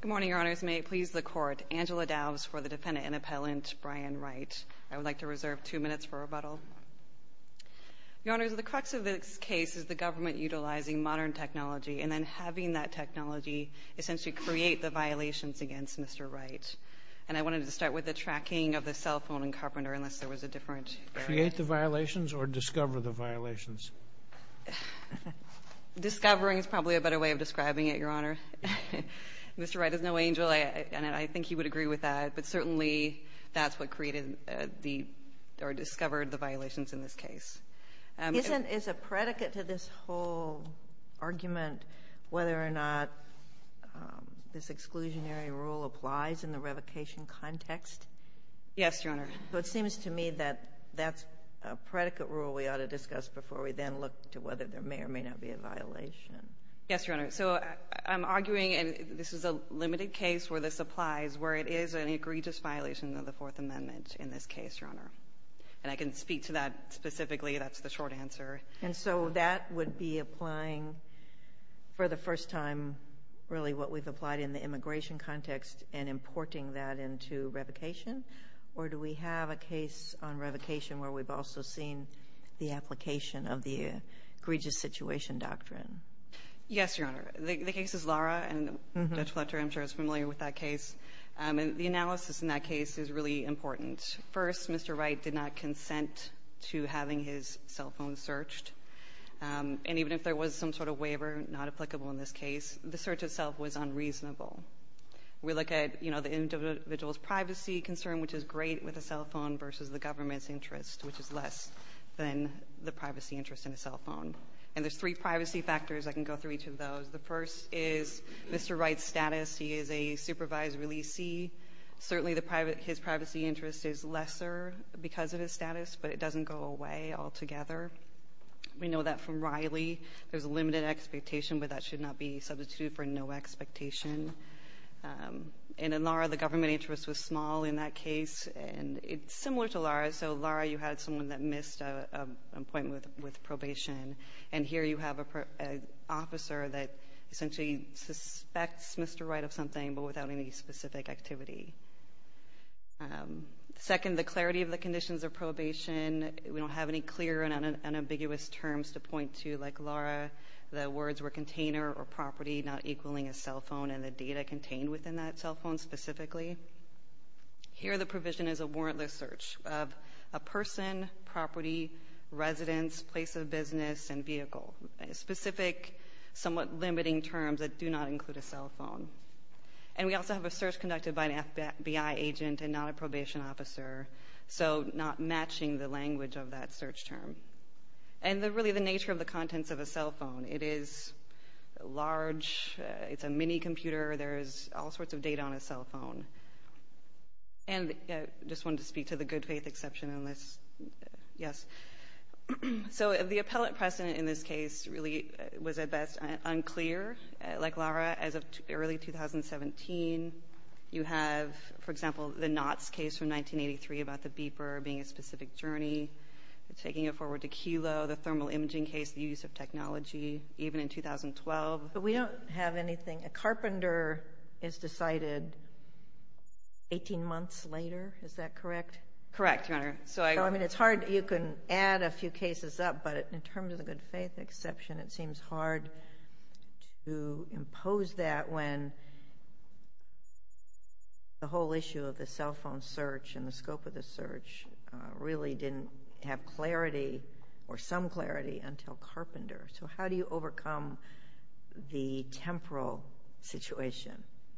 Good morning, Your Honors. May it please the Court, Angela Daubes for the defendant and appellant, Brian Wright. I would like to reserve two minutes for rebuttal. Your Honors, the crux of this case is the government utilizing modern technology and then having that technology essentially create the violations against Mr. Wright. And I wanted to start with the tracking of the cell phone and carpenter, unless there was a different area. Create the violations or discover the violations? Discovering is probably a better way of describing it, but Mr. Wright is no angel, and I think he would agree with that. But certainly, that's what created the or discovered the violations in this case. Is a predicate to this whole argument whether or not this exclusionary rule applies in the revocation context? Yes, Your Honor. So it seems to me that that's a predicate rule we ought to discuss before we then Yes, Your Honor. So I'm arguing, and this is a limited case where this applies, where it is an egregious violation of the Fourth Amendment in this case, Your Honor. And I can speak to that specifically. That's the short answer. And so that would be applying for the first time really what we've applied in the immigration context and importing that into revocation? Or do we have a case on revocation where we've also seen the application of the egregious situation doctrine? Yes, Your Honor. The case is Lara, and Judge Fletcher, I'm sure, is familiar with that case. And the analysis in that case is really important. First, Mr. Wright did not consent to having his cell phone searched. And even if there was some sort of waiver not applicable in this case, the search itself was unreasonable. We look at, you know, the individual's privacy concern, which is great with a cell phone, versus the government's interest, which is less than the privacy interest in a cell phone. And there's three privacy factors. I can go through each of those. The first is Mr. Wright's status. He is a supervised releasee. Certainly, his privacy interest is lesser because of his status, but it doesn't go away altogether. We know that from Riley. There's a limited expectation, but that should not be substituted for no expectation. And in Lara, the government interest was And it's similar to Lara. So, Lara, you had someone that missed an appointment with probation. And here, you have an officer that essentially suspects Mr. Wright of something, but without any specific activity. Second, the clarity of the conditions of probation. We don't have any clear and unambiguous terms to point to. Like Lara, the words were container or property, not equaling a cell phone, and the data contained within that cell phone specifically. Here, the provision is a warrantless search of a person, property, residence, place of business, and vehicle. Specific, somewhat limiting terms that do not include a cell phone. And we also have a search conducted by an FBI agent and not a probation officer. So, not matching the language of that search term. And really, the nature of the contents of a cell phone. It is large. It's a mini-computer. There's all sorts of data on a cell phone. And I just wanted to speak to the good faith exception on this. Yes. So, the appellate precedent in this case really was, at best, unclear. Like Lara, as of early 2017, you have, for example, the Knotts case from 1983 about the beeper being a specific journey, taking it forward to Kelo, the thermal imaging case, the use of technology, even in 2012. But we don't have anything. A carpenter is decided 18 months later. Is that correct? Correct, Your Honor. So, I mean, it's hard. You can add a few cases up, but in terms of the good faith exception, it seems hard to impose that when the whole issue of the cell phone search and the scope of the search really didn't have clarity or some clarity until carpenter. So, how do you overcome the temporal situation?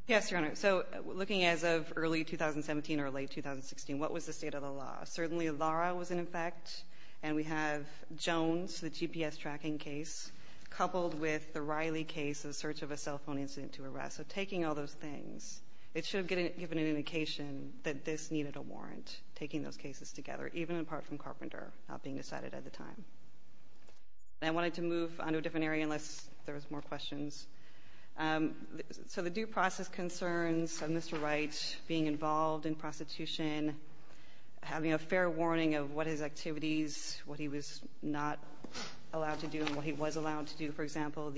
Yes, Your Honor. So, looking as of early 2017 or late 2016, what was the state of the law? Certainly, Lara was in effect, and we have Jones, the GPS tracking case, coupled with the Riley case, the search of a cell phone incident to arrest. So, taking all those things, it should have given an indication that this needed a warrant, taking those cases together, even apart from carpenter not being decided at the time. I wanted to move on to a different area unless there was more questions. So, the due process concerns of Mr. Wright being involved in prostitution, having a fair warning of what his activities, what he was not allowed to do and what he was allowed to do. For example,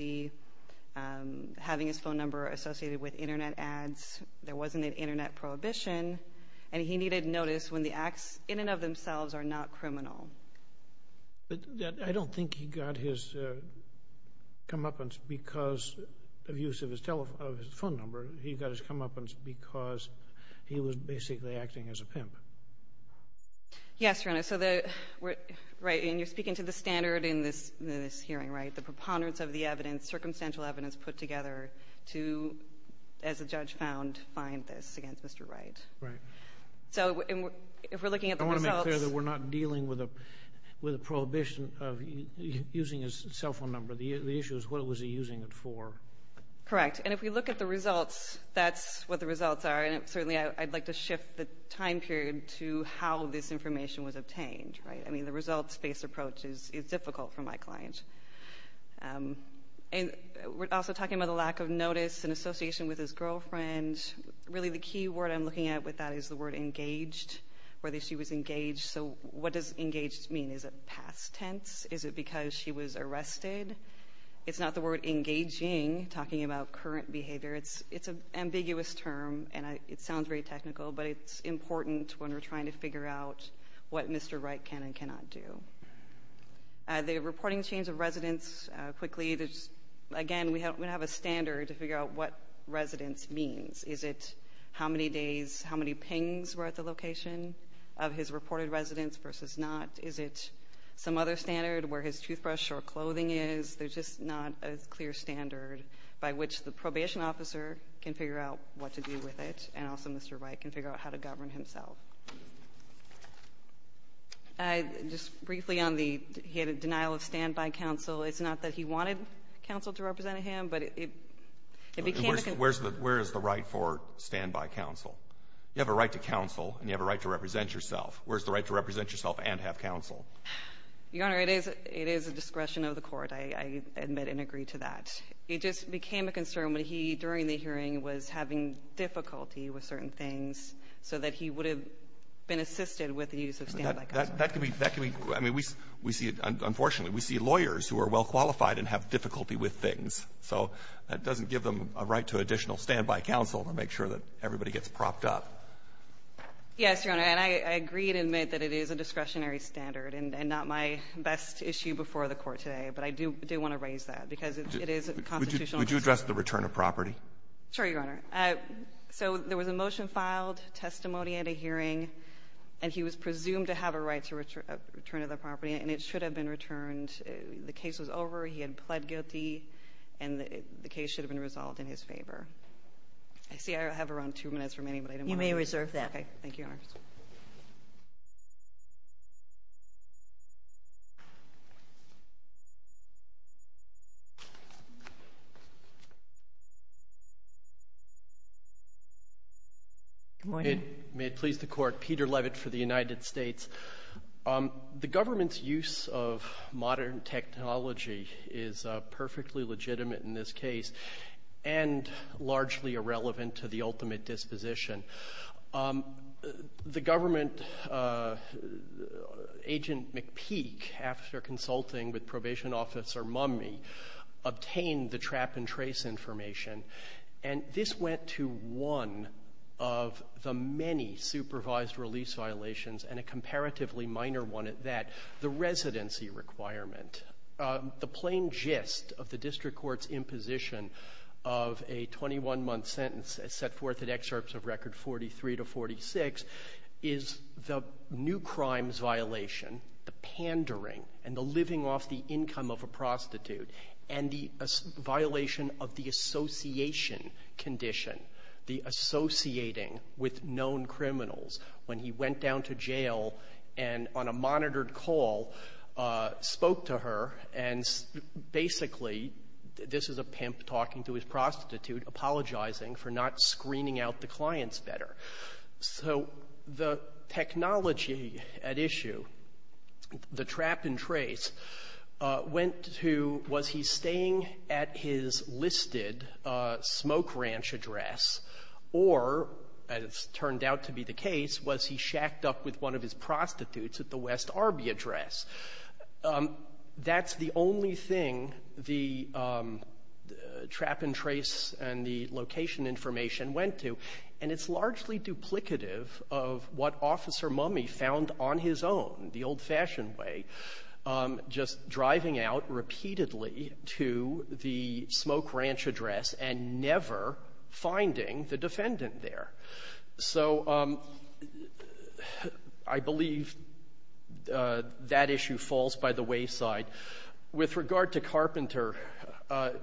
having his phone number associated with internet ads, there wasn't an internet prohibition, and he needed notice when the acts in and of themselves are not criminal. But I don't think he got his comeuppance because of use of his phone number. He got his comeuppance because he was basically acting as a pimp. Yes, Your Honor. So, you're speaking to the standard in this hearing, right? Yes. And I'm not saying that the court has not made a decision on the basis of the evidence, circumstantial evidence put together to, as the judge found, find this against Mr. Wright. Right. So, if we're looking at the results — I want to make clear that we're not dealing with a prohibition of using his cell phone number. The issue is what was he using it for. Correct. And if we look at the results, that's what the results are. And certainly, I'd like to shift the time period to how this information was obtained, right? I mean, the results-based approach is difficult for my client. And we're also talking about the lack of notice in association with his girlfriend. Really, the key word I'm looking at with that is the word engaged, whether she was engaged. So, what does engaged mean? Is it past tense? Is it because she was arrested? It's not the word engaging, talking about current behavior. It's an ambiguous term, and it sounds very technical, but it's important when we're trying to figure out what Mr. Wright can and cannot do. The reporting change of residence, quickly, again, we have a standard to figure out what residence means. Is it how many days, how many pings were at the location of his reported residence versus not? Is it some other standard where his toothbrush or clothing is? There's just not a clear standard by which the probation officer can figure out what to do with it, and also Mr. Wright can figure out how to govern himself. Just briefly on the denial of standby counsel, it's not that he wanted counsel to represent him, but it became a concern. Where is the right for standby counsel? You have a right to counsel, and you have a right to represent yourself. Where is the right to represent yourself and have counsel? Your Honor, it is a discretion of the court. I admit and agree to that. It just became a concern when he, during the hearing, was having difficulty with certain things so that he would have been assisted with the use of standby counsel. That could be we see, unfortunately, we see lawyers who are well qualified and have difficulty with things. So that doesn't give them a right to additional standby counsel to make sure that everybody gets propped up. Yes, Your Honor. And I agree and admit that it is a discretionary standard and not my best issue before the Court today, but I do want to raise that because it is a constitutional concern. Would you address the return of property? Sure, Your Honor. So there was a motion filed, testimony at a hearing, and he was presumed to have a right to return to the property, and it should have been returned. The case was over, he had pled guilty, and the case should have been resolved in his favor. I see I have around two minutes remaining, but I don't want to reserve that. You may reserve that. Okay. Thank you, Your Honor. Good morning. May it please the Court. Peter Levitt for the United States. The government's use of modern technology is perfectly legitimate in this case, and largely irrelevant to the ultimate disposition. The government, Agent McPeak, after consulting with Probation Officer Mummey, obtained the trap and trace information, and this went to one of the many supervised release violations and a comparatively minor one at that, the residency requirement. The plain gist of the district court's imposition of a 21-month sentence, as set forth in excerpts of Record 43 to 46, is the new crimes violation, the pandering and the living off the income of a prostitute, and the violation of the association condition, the associating with known criminals when he went down to jail and on a monitored call spoke to her and basically, this is a pimp talking to his prostitute, apologizing for not screening out the clients better. So the technology at issue, the trap and trace, went to was he staying at his listed smoke ranch address, or, as turned out to be the case, was he shacked up with one of his prostitutes at the West Arby address. That's the only thing the trap and trace and the location information went to. And it's largely duplicative of what Officer never finding the defendant there. So I believe that issue falls by the wayside. With regard to Carpenter,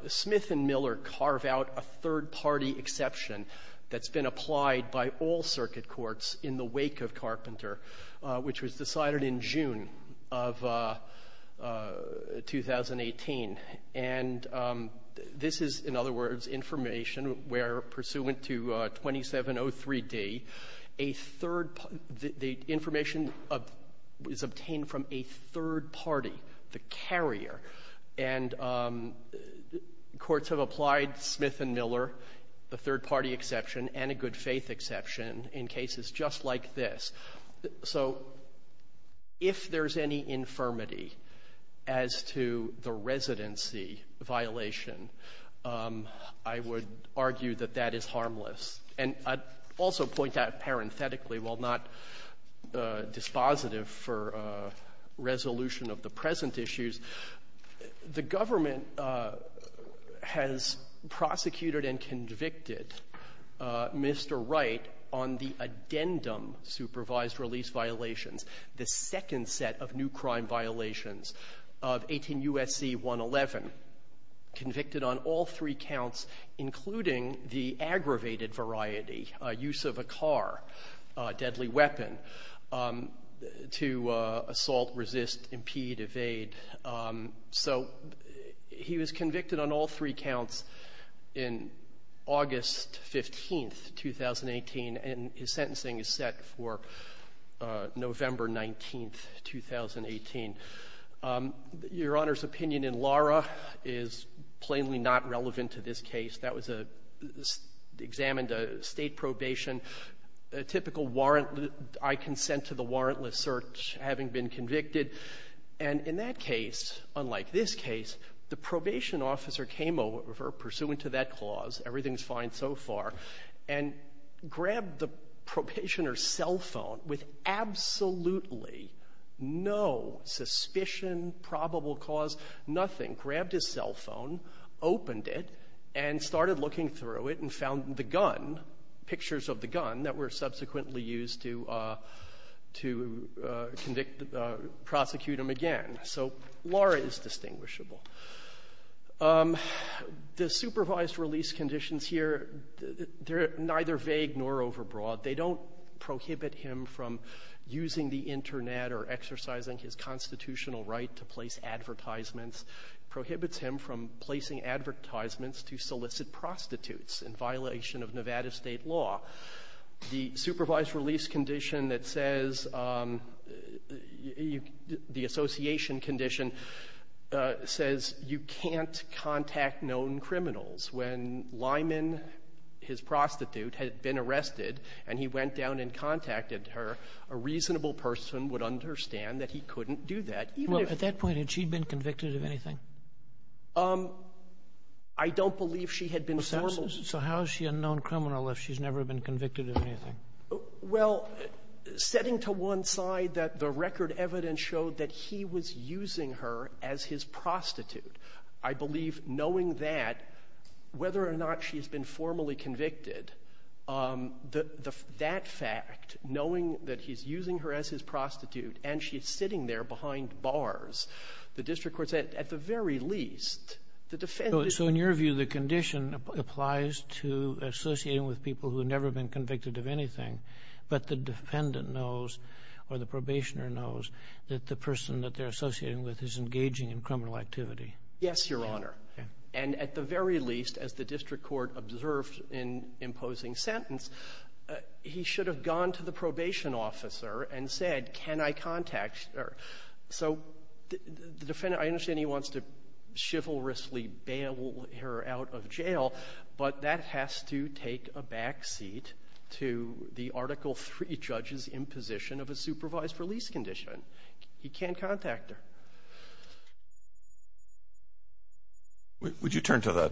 Smith and Miller carve out a third-party exception that's been applied by all circuit courts in the wake of Carpenter, which was decided in June of 2018. And this is, in other words, information where, pursuant to 2703D, a third party the information is obtained from a third party, the carrier. And courts have applied Smith and Miller, the third-party exception, and a good-faith exception in cases just like this. So if there's any infirmity as to the residency violation, I would argue that that is harmless. And I'd also point out parenthetically, while not dispositive for resolution of the on the addendum supervised release violations, the second set of new crime violations of 18 U.S.C. 111, convicted on all three counts, including the aggravated variety, use of a car, deadly weapon, to assault, resist, impede, evade. So he was convicted on all three counts in August 15th, 2018, and his sentencing is set for November 19th, 2018. Your Honor's opinion in Lara is plainly not relevant to this case. That was a examined State probation, a typical warrant. I consent to the warrantless search having been convicted. And in that case, unlike this case, the probation officer came over pursuant to that clause, everything's fine so far, and grabbed the probationer's cell phone with absolutely no suspicion, probable cause, nothing, grabbed his cell phone, opened it, and started looking through it and found the gun, pictures of the gun that were subsequently used to convict, prosecute him again. So Lara is distinguishable. The supervised release conditions here, they're neither vague nor overbroad. They don't prohibit him from using the Internet or exercising his constitutional right to place advertisements, prohibits him from placing advertisements to solicit prostitutes in violation of Nevada State law. The supervised release condition that says, the association condition says you can't contact known criminals. When Lyman, his prostitute, had been arrested and he went down and contacted her, a reasonable person would understand that he couldn't do that, even if he had been convicted of anything. I don't believe she had been formal. So how is she a known criminal if she's never been convicted of anything? Well, setting to one side that the record evidence showed that he was using her as his prostitute, I believe knowing that, whether or not she's been formally convicted, that fact, knowing that he's using her as his prostitute and she's sitting there behind bars, the district court said, at the very least, the defendant can't be convicted. So in your view, the condition applies to associating with people who have never been convicted of anything, but the defendant knows or the probationer knows that the person that they're associating with is engaging in criminal activity? Yes, Your Honor. And at the very least, as the district court observed in imposing sentence, he should have gone to the probation officer and said, can I contact her? So the defendant, I understand he wants to chivalrously bail her out of jail, but that has to take a backseat to the Article III judge's imposition of a supervised release condition. He can't contact her. Would you turn to the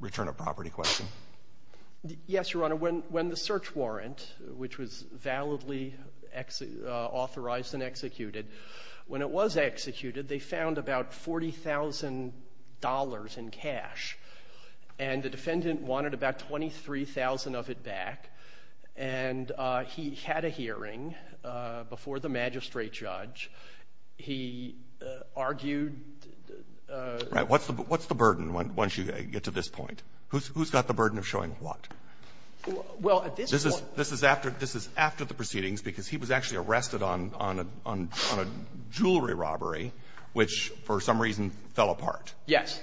return of property question? Yes, Your Honor. When the search warrant, which was validly authorized and executed, when it was executed, they found about $40,000 in cash, and the defendant wanted about $23,000 of it back. And he had a hearing before the magistrate judge. He argued the ---- Right. What's the burden once you get to this point? Who's got the burden of showing what? Well, at this point ---- This is after the proceedings, because he was actually arrested on a jewelry robbery, which, for some reason, fell apart. Yes.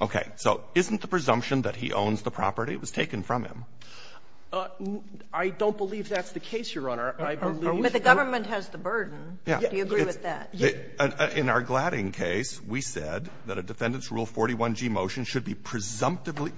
Okay. So isn't the presumption that he owns the property? It was taken from him. I don't believe that's the case, Your Honor. But the government has the burden. Yeah. Do you agree with that? In our Gladding case, we said that a defendant's Rule 41g motion should be presumptively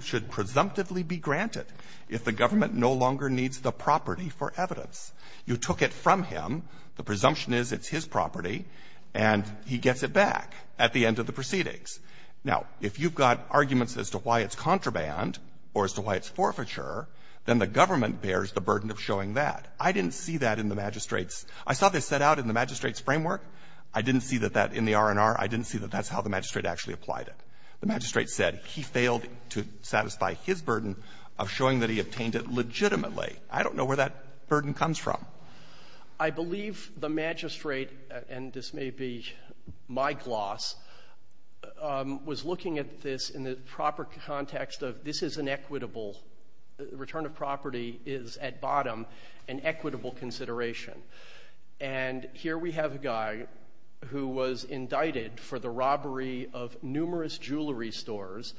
be granted if the government no longer needs the property for evidence. You took it from him. The presumption is it's his property, and he gets it back at the end of the proceedings. Now, if you've got arguments as to why it's contraband or as to why it's forfeiture, then the government bears the burden of showing that. I didn't see that in the magistrate's ---- I saw this set out in the magistrate's framework. I didn't see that that in the R&R. I didn't see that that's how the magistrate actually applied it. The magistrate said he failed to satisfy his burden of showing that he obtained it legitimately. I don't know where that burden comes from. I believe the magistrate, and this may be my gloss, was looking at this in the proper context of this is an equitable ---- the return of property is, at bottom, an equitable consideration. And here we have a guy who was indicted for the robbery of numerous jewelry stores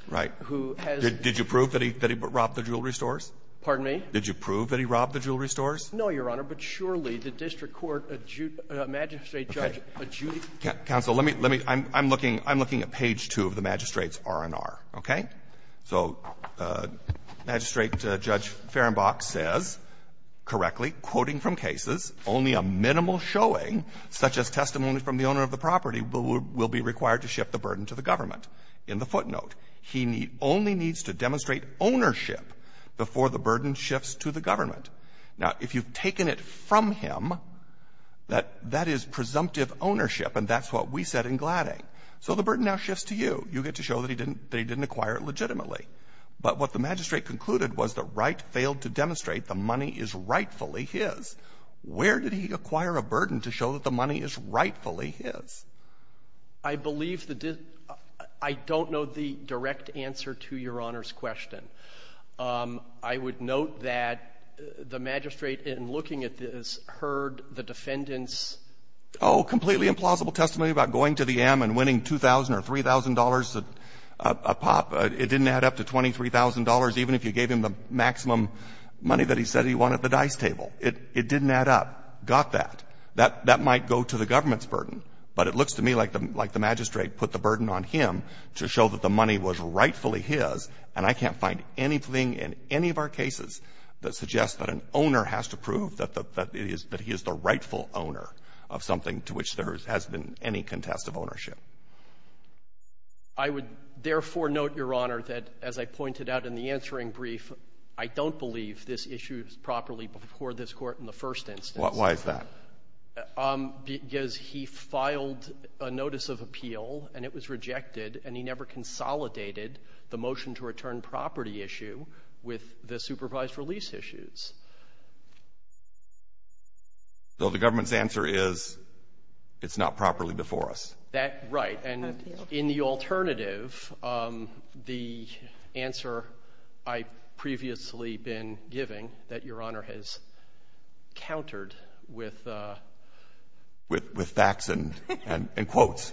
who has ---- Right. Did you prove that he robbed the jewelry stores? Pardon me? Did you prove that he robbed the jewelry stores? No, Your Honor. But surely the district court magistrate judge adjudicates ---- Okay. Counsel, let me ---- let me ---- I'm looking at page 2 of the magistrate's R&R, okay? So Magistrate Judge Fehrenbach says, correctly, quoting from cases, only a minimal showing, such as testimony from the owner of the property, will be required to shift the burden to the government. In the footnote, he only needs to demonstrate ownership before the burden shifts to the government. Now, if you look at this, if you've taken it from him, that is presumptive ownership, and that's what we said in Gladding. So the burden now shifts to you. You get to show that he didn't ---- that he didn't acquire it legitimately. But what the magistrate concluded was the right failed to demonstrate the money is rightfully his. Where did he acquire a burden to show that the money is rightfully his? I believe the ---- I don't know the direct answer to Your Honor's question. I would note that the magistrate, in looking at this, heard the defendant's ---- Oh, completely implausible testimony about going to the M and winning $2,000 or $3,000 a pop. It didn't add up to $23,000, even if you gave him the maximum money that he said he wanted at the dice table. It didn't add up. Got that. That might go to the government's burden. He was rightfully his, and I can't find anything in any of our cases that suggests that an owner has to prove that the ---- that he is the rightful owner of something to which there has been any contest of ownership. I would, therefore, note, Your Honor, that, as I pointed out in the answering brief, I don't believe this issue is properly before this Court in the first instance. Why is that? Because he filed a notice of appeal, and it was rejected, and he never consolidated the motion-to-return property issue with the supervised release issues. So the government's answer is it's not properly before us. That ---- Right. And in the alternative, the answer I've previously been giving, that Your Honor has countered with ---- With facts and quotes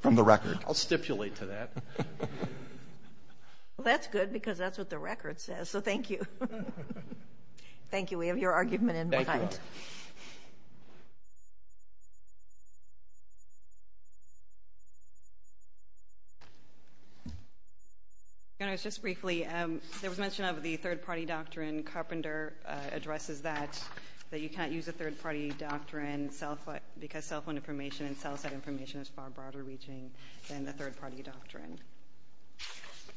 from the record. I'll stipulate to that. Well, that's good, because that's what the record says. So thank you. Thank you. We have your argument in mind. Thank you, Your Honor. Your Honor, just briefly, there was mention of the third-party doctrine. Carpenter addresses that, that you cannot use a third-party doctrine because cell phone information and cell site information is far broader-reaching than the third-party doctrine.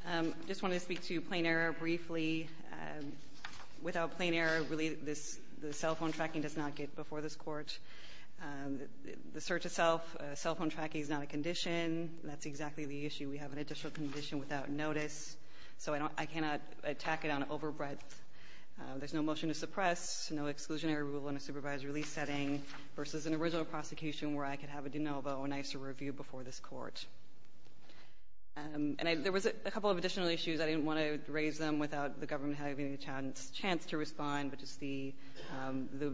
I just wanted to speak to plain error briefly. Without plain error, really, the cell phone tracking does not get before this Court. The search itself, cell phone tracking is not a condition. That's exactly the issue. We have an additional condition without notice. So I cannot attack it on overbreadth. There's no motion to suppress, no exclusionary rule in a supervised release setting versus an original prosecution where I could have a de novo, an ICER review before this Court. And there was a couple of additional issues. I didn't want to raise them without the government having a chance to respond, but just the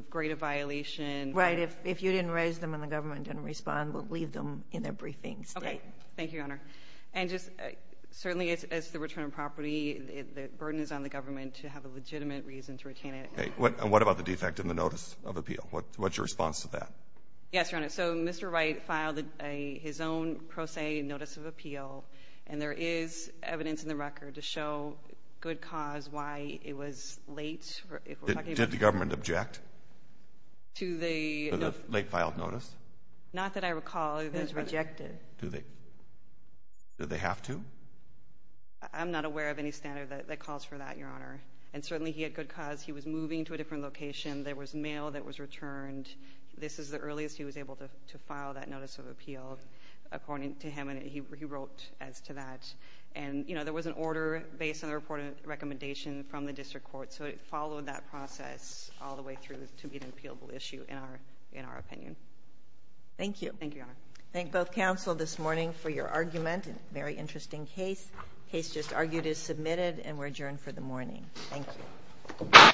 greater violation. Right. If you didn't raise them and the government didn't respond, we'll leave them in their briefings. Okay. Thank you, Your Honor. And just certainly as the return of property, the burden is on the government to have a legitimate reason to retain it. And what about the defect in the notice of appeal? What's your response to that? Yes, Your Honor. So Mr. Wright filed his own pro se notice of appeal. And there is evidence in the record to show good cause why it was late. Did the government object to the late-filed notice? Not that I recall. It was rejected. Do they have to? I'm not aware of any standard that calls for that, Your Honor. And certainly he had good cause. He was moving to a different location. There was mail that was returned. This is the earliest he was able to file that notice of appeal, according to him, and he wrote as to that. And, you know, there was an order based on the reported recommendation from the district court. So it followed that process all the way through to be an appealable issue, in our opinion. Thank you. Thank you, Your Honor. Thank both counsel this morning for your argument, a very interesting case. Case just argued is submitted, and we're adjourned for the morning. Thank you.